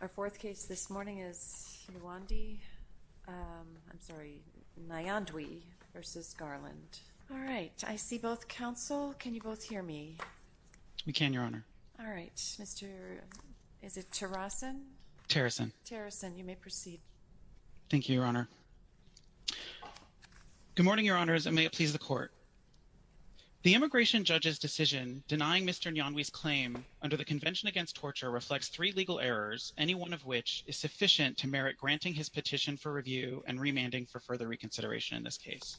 Our fourth case this morning is Nyandwi v. Garland. All right, I see both counsel. Can you both hear me? We can, Your Honor. All right, is it Tarasen? Tarasen. Tarasen, you may proceed. Thank you, Your Honor. Good morning, Your Honors, and may it please the Court. The immigration judge's decision denying Mr. Nyandwi's claim under the Convention Against Torture reflects three legal errors any one of which is sufficient to merit granting his petition for review and remanding for further reconsideration in this case.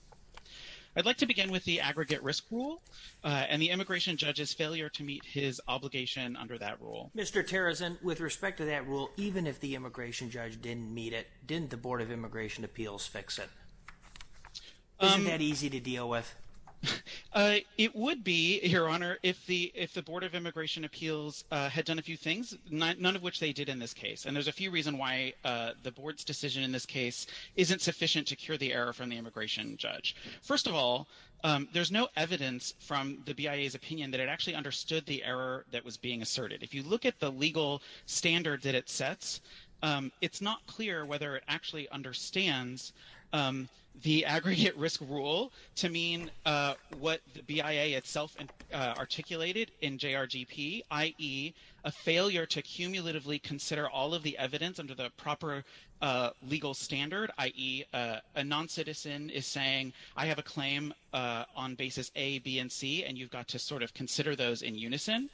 I'd like to begin with the aggregate risk rule and the immigration judge's failure to meet his obligation under that rule. Mr. Tarasen, with respect to that rule, even if the immigration judge didn't meet it, didn't the Board of Immigration Appeals fix it? Isn't that easy to deal with? It would be, Your Honor, if the Board of Immigration Appeals had done a few things, none of which they did in this case, and there's a few reasons why the Board's decision in this case isn't sufficient to cure the error from the immigration judge. First of all, there's no evidence from the BIA's opinion that it actually understood the error that was being asserted. If you look at the legal standards that it sets, it's not clear whether it actually understands the aggregate risk rule to mean what the BIA itself articulated in JRGP, i.e., a failure to cumulatively consider all of the evidence under the proper legal standard, i.e., a non-citizen is saying, I have a claim on basis A, B, and C, and you've got to sort of consider those in unison.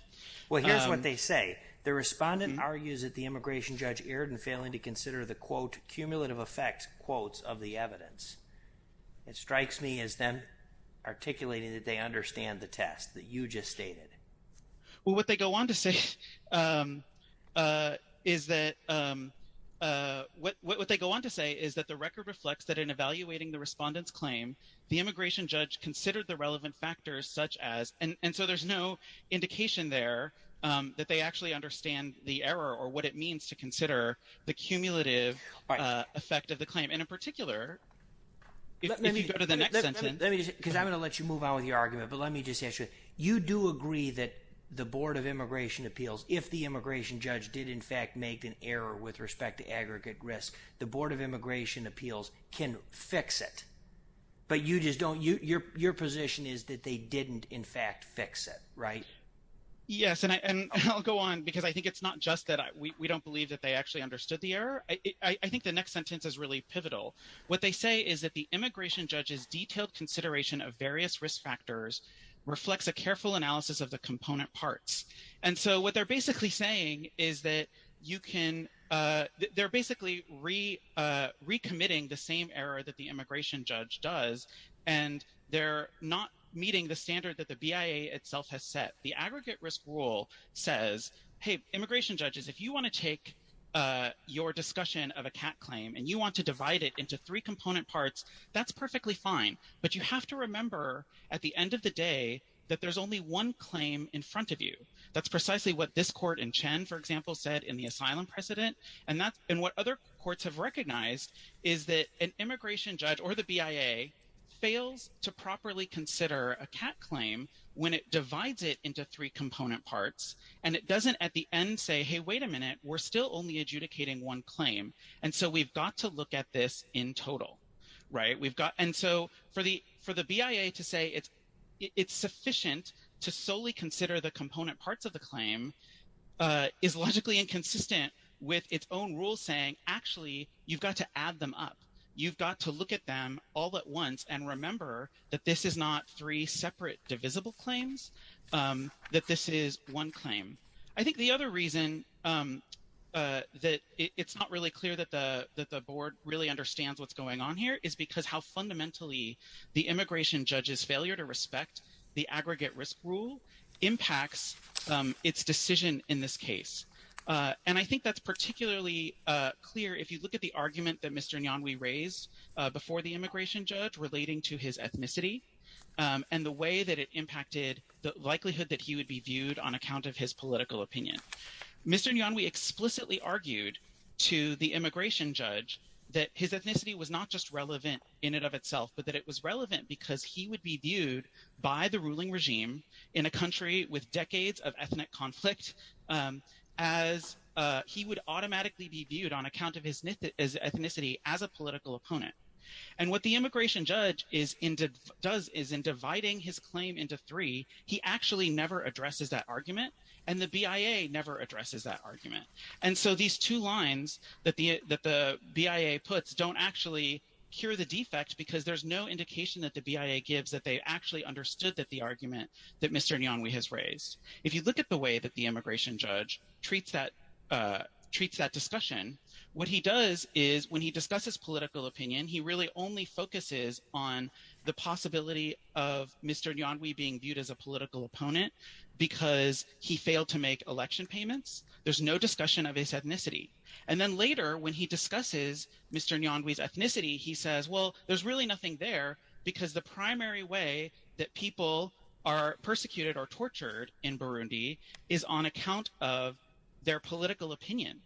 Well, here's what they say. The respondent argues that the immigration judge erred in failing to consider the, quote, cumulative effects, quotes, of the evidence. It strikes me as them articulating that they understand the test that you just stated. Well, what they go on to say is that, what they go on to say is that the record reflects that in evaluating the respondent's claim, the immigration judge considered the relevant factors such as, and so there's no indication there that they actually understand the error or what it means to consider the cumulative effect of the claim. And in particular, if you go to the next sentence. Because I'm going to let you move on with your argument, but let me just ask you, you do agree that the Board of Immigration Appeals, if the immigration judge did, in fact, make an error with respect to aggregate risk, the Board of Immigration Appeals can fix it, but you just don't, your position is that they didn't, in fact, fix it, right? Yes, and I'll go on because I think it's not just that we don't believe that they actually understood the error. I think the next sentence is really pivotal. What they say is that the immigration judge's detailed consideration of various risk factors reflects a careful analysis of the component parts. And so what they're basically saying is that you can, they're basically recommitting the same error that the immigration judge does, and they're not meeting the standard that the BIA itself has set. The aggregate risk rule says, hey, immigration judges, if you want to take your discussion of a CAT claim and you want to divide it into three component parts, that's perfectly fine, but you have to remember at the end of the day that there's only one claim in front of you. That's precisely what this court in Chen, for example, said in the asylum precedent, and what other courts have recognized is that an immigration judge or the BIA fails to properly consider a CAT claim when it divides it into three component parts, and it doesn't at the end say, hey, wait a minute, we're still only adjudicating one claim, and so we've got to look at this in total, right? We've got, and so for the BIA to say it's sufficient to solely consider the component parts of the claim is logically inconsistent with its own rule saying, actually, you've got to add them up. You've got to look at them all at once and remember that this is not three separate divisible claims, that this is one claim. I think the other reason that it's not really clear that the board really understands what's going on here is because how fundamentally the immigration judge's failure to respect the aggregate risk rule impacts its decision in this case, and I think that's particularly clear if you look at the argument that Mr. Nyanwe raised before the immigration judge relating to his ethnicity and the way that it impacted the likelihood that he would be viewed on account of his political opinion. Mr. Nyanwe explicitly argued to the immigration judge that his ethnicity was not just relevant in and of itself, but that it was relevant because he would be viewed by the ruling regime in a country with decades of ethnic conflict as he would automatically be viewed on account of his ethnicity as a political opponent, and what the immigration judge does is in dividing his claim into three, he actually never addresses that argument and the BIA never addresses that argument, and so these two lines that the BIA puts don't actually cure the defect because there's no indication that the BIA gives that they actually understood that the argument that Mr. Nyanwe has raised. If you look at the way that the immigration judge treats that discussion, what he does is when he discusses political opinion, he really only focuses on the possibility of Mr. Nyanwe being viewed as a political opponent because he failed to make election payments. There's no discussion of his ethnicity, and then later when he discusses Mr. Nyanwe's ethnicity, he says, well, there's really nothing there because the primary way that people are persecuted or tortured in Burundi is on account of their political opinion,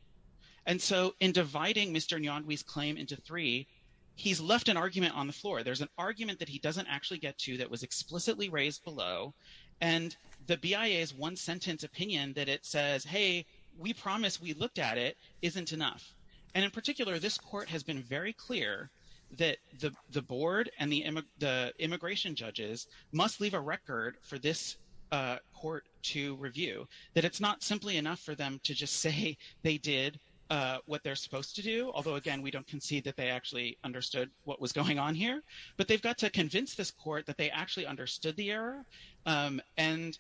and so in dividing Mr. Nyanwe's claim into three, he's left an argument on the floor. There's an argument that he doesn't actually get to that was explicitly raised below, and the BIA's one-sentence opinion that it says, hey, we promise we looked at it isn't enough, and in particular, this court has been very clear that the board and the immigration judges must leave a record for this court to review, that it's not simply enough for them to just say they did what they're supposed to do, although, again, we don't concede that they actually understood what was going on here, but they've got to convince this court that they actually understood the error and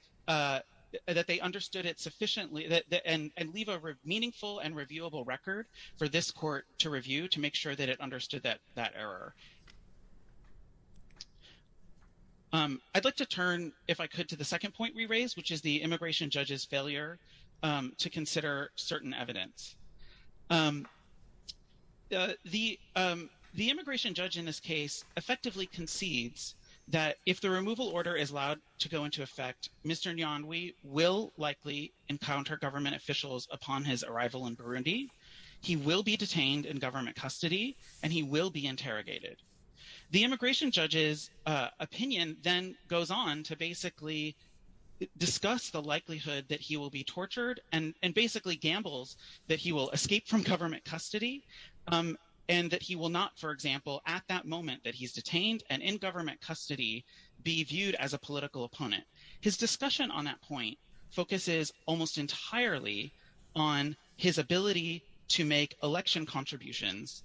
that they understood it sufficiently and leave a meaningful and reviewable record for this court to review to make sure that it understood that error. I'd like to turn, if I could, to the second point we raised, which is the immigration judge's failure to consider certain evidence. The immigration judge in this case effectively concedes that if the removal order is allowed to go into effect, Mr. Nyanwee will likely encounter government officials upon his arrival in Burundi, he will be detained in government custody, and he will be interrogated. The immigration judge's opinion then goes on to basically discuss the likelihood that he will be tortured and basically gambles that he will be executed. He will escape from government custody and that he will not, for example, at that moment that he's detained and in government custody, be viewed as a political opponent. His discussion on that point focuses almost entirely on his ability to make election contributions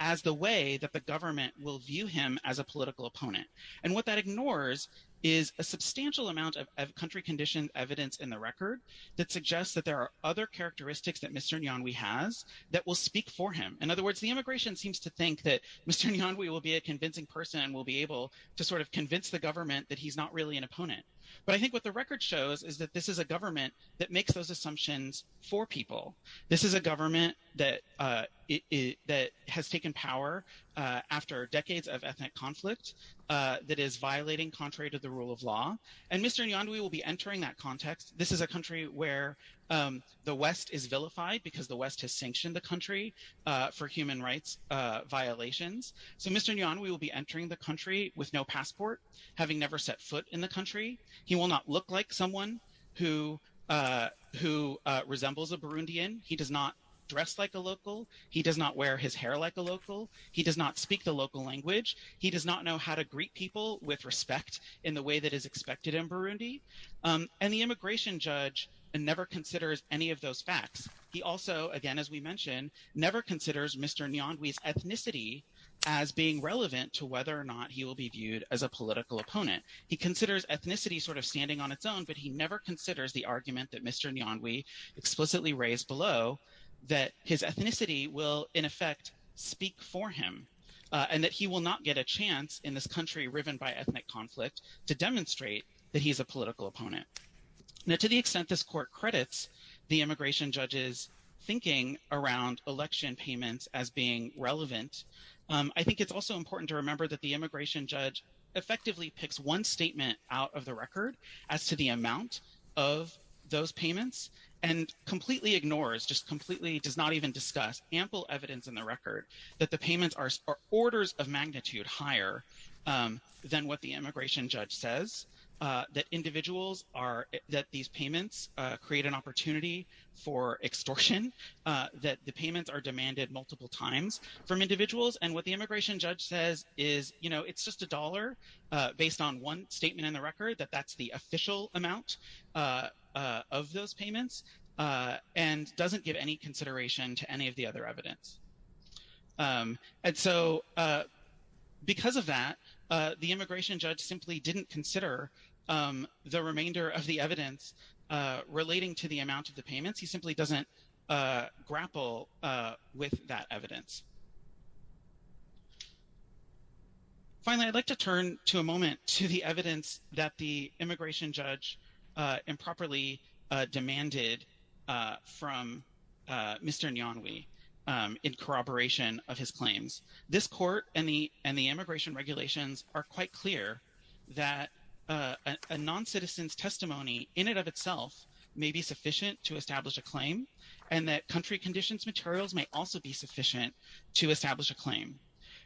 as the way that the government will view him as a political opponent. And what that ignores is a substantial amount of country-conditioned evidence in the record that suggests that there are other characteristics that Mr. Nyanwee has that will speak for him. In other words, the immigration seems to think that Mr. Nyanwee will be a convincing person and will be able to sort of convince the government that he's not really an opponent. But I think what the record shows is that this is a government that makes those assumptions for people. This is a government that has taken power after decades of ethnic conflict that is violating contrary to the rule of law. And Mr. Nyanwee will be entering that context. This is a country where the West is vilified because the West has sanctioned the country for human rights violations. So Mr. Nyanwee will be entering the country with no passport, having never set foot in the country. He will not look like someone who resembles a Burundian. He does not dress like a local. He does not wear his hair like a local. He does not speak the local language. He does not know how to greet people with respect in the way that is expected in Burundi. And the immigration judge never considers any of those facts. He also, again, as we mentioned, never considers Mr. Nyanwee's ethnicity as being relevant to whether or not he will be viewed as a political opponent. He considers ethnicity sort of standing on its own, but he never considers the argument that Mr. Nyanwee explicitly raised below that his ethnicity will, in effect, speak for him and that he will not get a chance in this country riven by ethnic conflict to demonstrate that he's a political opponent. Now, to the extent this court credits the immigration judge's thinking around election payments as being relevant, I think it's also important to remember that the immigration judge effectively picks one statement out of the record as to the amount of those payments and completely ignores, just completely does not even discuss ample evidence in the record that the payments are orders of magnitude higher than what the immigration judge says, that individuals are, that these payments create an opportunity for extortion, that the payments are demanded multiple times from individuals. And what the immigration judge says is, you know, it's just a dollar based on one statement in the record that that's the official amount of those payments and doesn't give any consideration to any of the other evidence. And so because of that, the immigration judge simply didn't consider the remainder of the evidence relating to the amount of the payments. He simply doesn't grapple with that evidence. Finally, I'd like to turn to a moment to the evidence that the immigration judge improperly demanded from Mr. Nyanwe in corroboration of his claims. This court and the immigration regulations are quite clear that a non-citizen's testimony in and of itself may be sufficient to establish a claim and that country conditions materials may also be sufficient to establish a claim.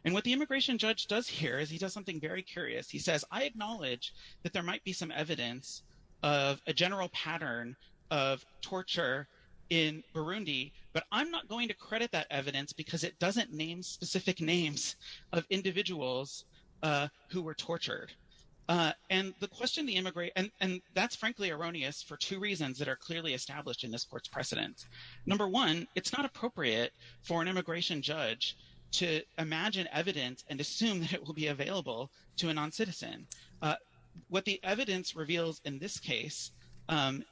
And what the immigration judge does here is he does something very curious. He says, I acknowledge that there might be some evidence of a general pattern of torture in Burundi, but I'm not going to credit that evidence because it doesn't name specific names of individuals who were tortured. And the question the immigrate, and that's frankly erroneous for two reasons that are clearly established in this court's precedent. Number one, it's not appropriate for an immigration judge to imagine evidence and assume that it will be available to a non-citizen. What the evidence reveals in this case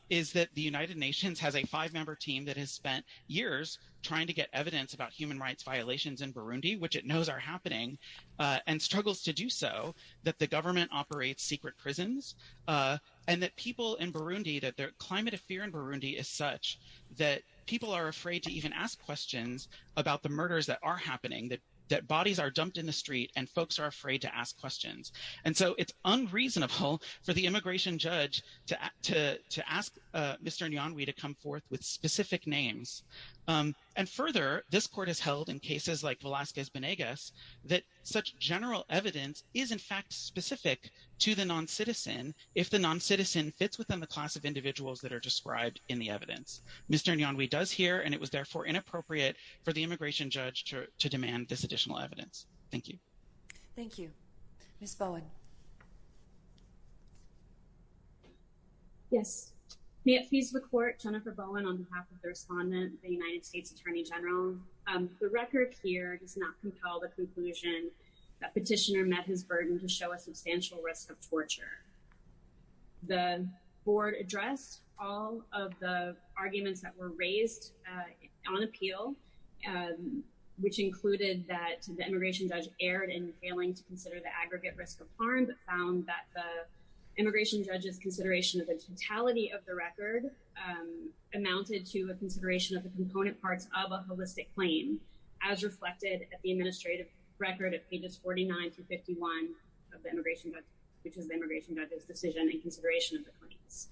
is that the United Nations has a five-member team that has spent years trying to get evidence about human rights violations in Burundi, which it knows are happening and struggles to do so, that the government operates secret prisons and that people in Burundi, that their climate of fear in Burundi is such that people are afraid to even ask questions about the murders that are happening, that bodies are dumped in the street and folks are afraid to ask questions. And so it's unreasonable for the immigration judge to ask Mr. Nyanwe to come forth with specific names. And further, this court has held in cases like Velazquez-Benegas that such general evidence is in fact specific to the non-citizen if the non-citizen fits within the class of individuals that are described in the evidence. Mr. Nyanwe does here and it was therefore inappropriate for the immigration judge to demand this additional evidence. Thank you. Thank you. Ms. Bowen. Yes, may it please the court, Jennifer Bowen, on behalf of the respondent, the United States Attorney General. The record here does not compel the conclusion that petitioner met his burden to show a substantial risk of torture. The board addressed all of the arguments that were raised on appeal, which included that the immigration judge erred in failing to consider the aggregate risk of harm, but found that the immigration judge consideration of the totality of the record amounted to a consideration of the component parts of a holistic claim, as reflected at the administrative record at pages 49 through 51 of the immigration judge, which is the immigration judge's decision in consideration of the claims.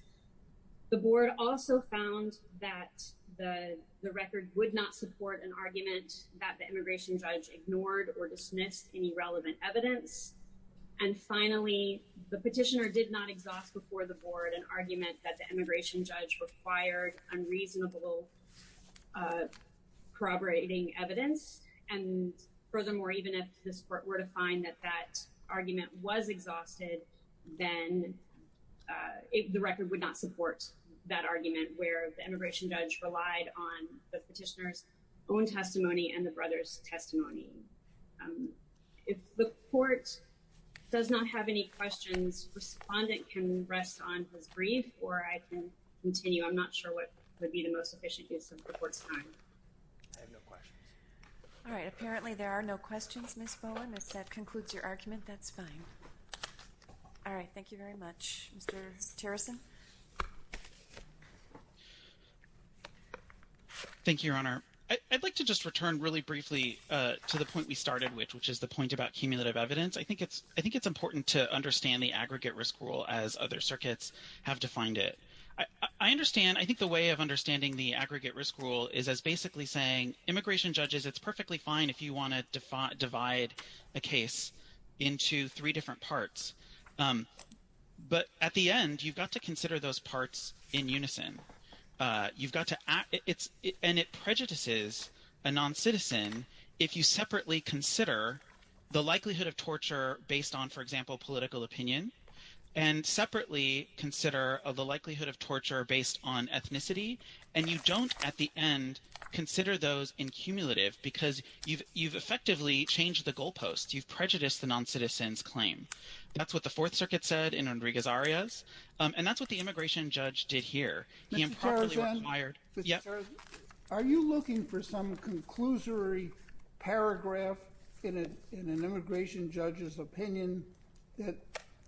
The board also found that the record would not support an argument that the immigration judge ignored or dismissed any relevant evidence. And finally, the petitioner did not exhaust before the board an argument that the immigration judge required unreasonable corroborating evidence. And furthermore, even if this court were to find that that argument was exhausted, then the record would not support that argument where the immigration judge relied on the petitioner's own testimony and the brother's testimony. If the court does not have any questions, respondent can rest on his brief or I can continue. I'm not sure what would be the most efficient use of the court's time. I have no questions. All right. Apparently there are no questions. Ms. Bowen, if that concludes your argument, that's fine. All right. Thank you very much. Mr. Terrison. Thank you, Your Honor. I'd like to just return really briefly to the point we started with, which is the point about cumulative evidence. I think it's important to understand the aggregate risk rule as other circuits have defined it. I understand. I think the way of understanding the aggregate risk rule is as basically saying, immigration judges, it's perfectly fine if you want to divide a case into three different parts. But at the end, you've got to consider those parts in unison. And it prejudices a non-citizen if you separately consider the likelihood of torture based on, for example, political opinion, and separately consider the likelihood of torture based on ethnicity. And you don't, at the end, consider those in cumulative because you've effectively changed the goalposts. You've prejudiced the non-citizen's claim. That's what the Fourth Circuit said in Rodriguez-Arias. And that's what the immigration judge did here. Mr. Terrison? He improperly required— Mr. Terrison? Are you looking for some conclusory paragraph in an immigration judge's opinion that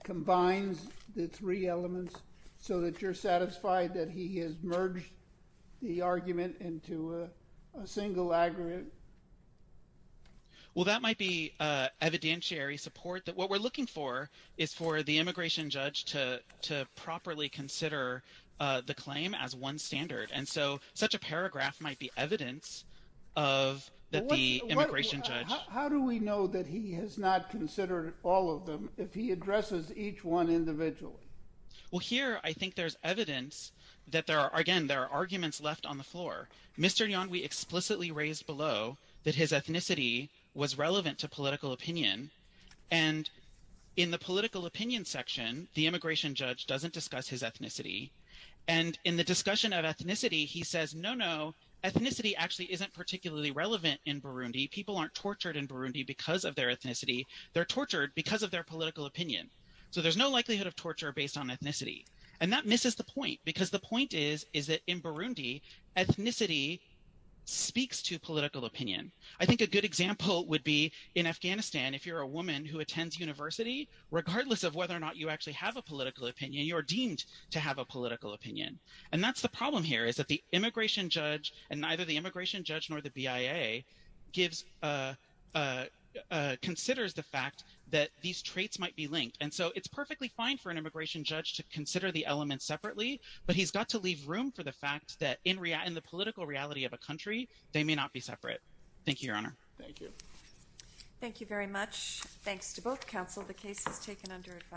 combines the three elements so that you're satisfied that he has merged the argument into a single aggregate? Well, that might be evidentiary support that what we're looking for is for the immigration judge to properly consider the claim as one standard. And so such a paragraph might be evidence of that the immigration judge— How do we know that he has not considered all of them if he addresses each one individually? Well, here, I think there's evidence that there are— again, there are arguments left on the floor. Mr. Yan, we explicitly raised below that his ethnicity was relevant to political opinion. And in the political opinion section, the immigration judge doesn't discuss his ethnicity. And in the discussion of ethnicity, he says, no, no, ethnicity actually isn't particularly relevant in Burundi. People aren't tortured in Burundi because of their ethnicity. They're tortured because of their political opinion. So there's no likelihood of torture based on ethnicity. And that misses the point, because the point is, is that in Burundi, ethnicity speaks to political opinion. I think a good example would be in Afghanistan, if you're a woman who attends university, regardless of whether or not you actually have a political opinion, you're deemed to have a political opinion. And that's the problem here, is that the immigration judge and neither the immigration judge nor the BIA considers the fact that these traits might be linked. And so it's perfectly fine for an immigration judge to consider the elements separately, but he's got to leave room for the fact that in the political reality of a country, they may not be separate. Thank you, Your Honor. Thank you. Thank you very much. Thanks to both counsel. The case is taken under.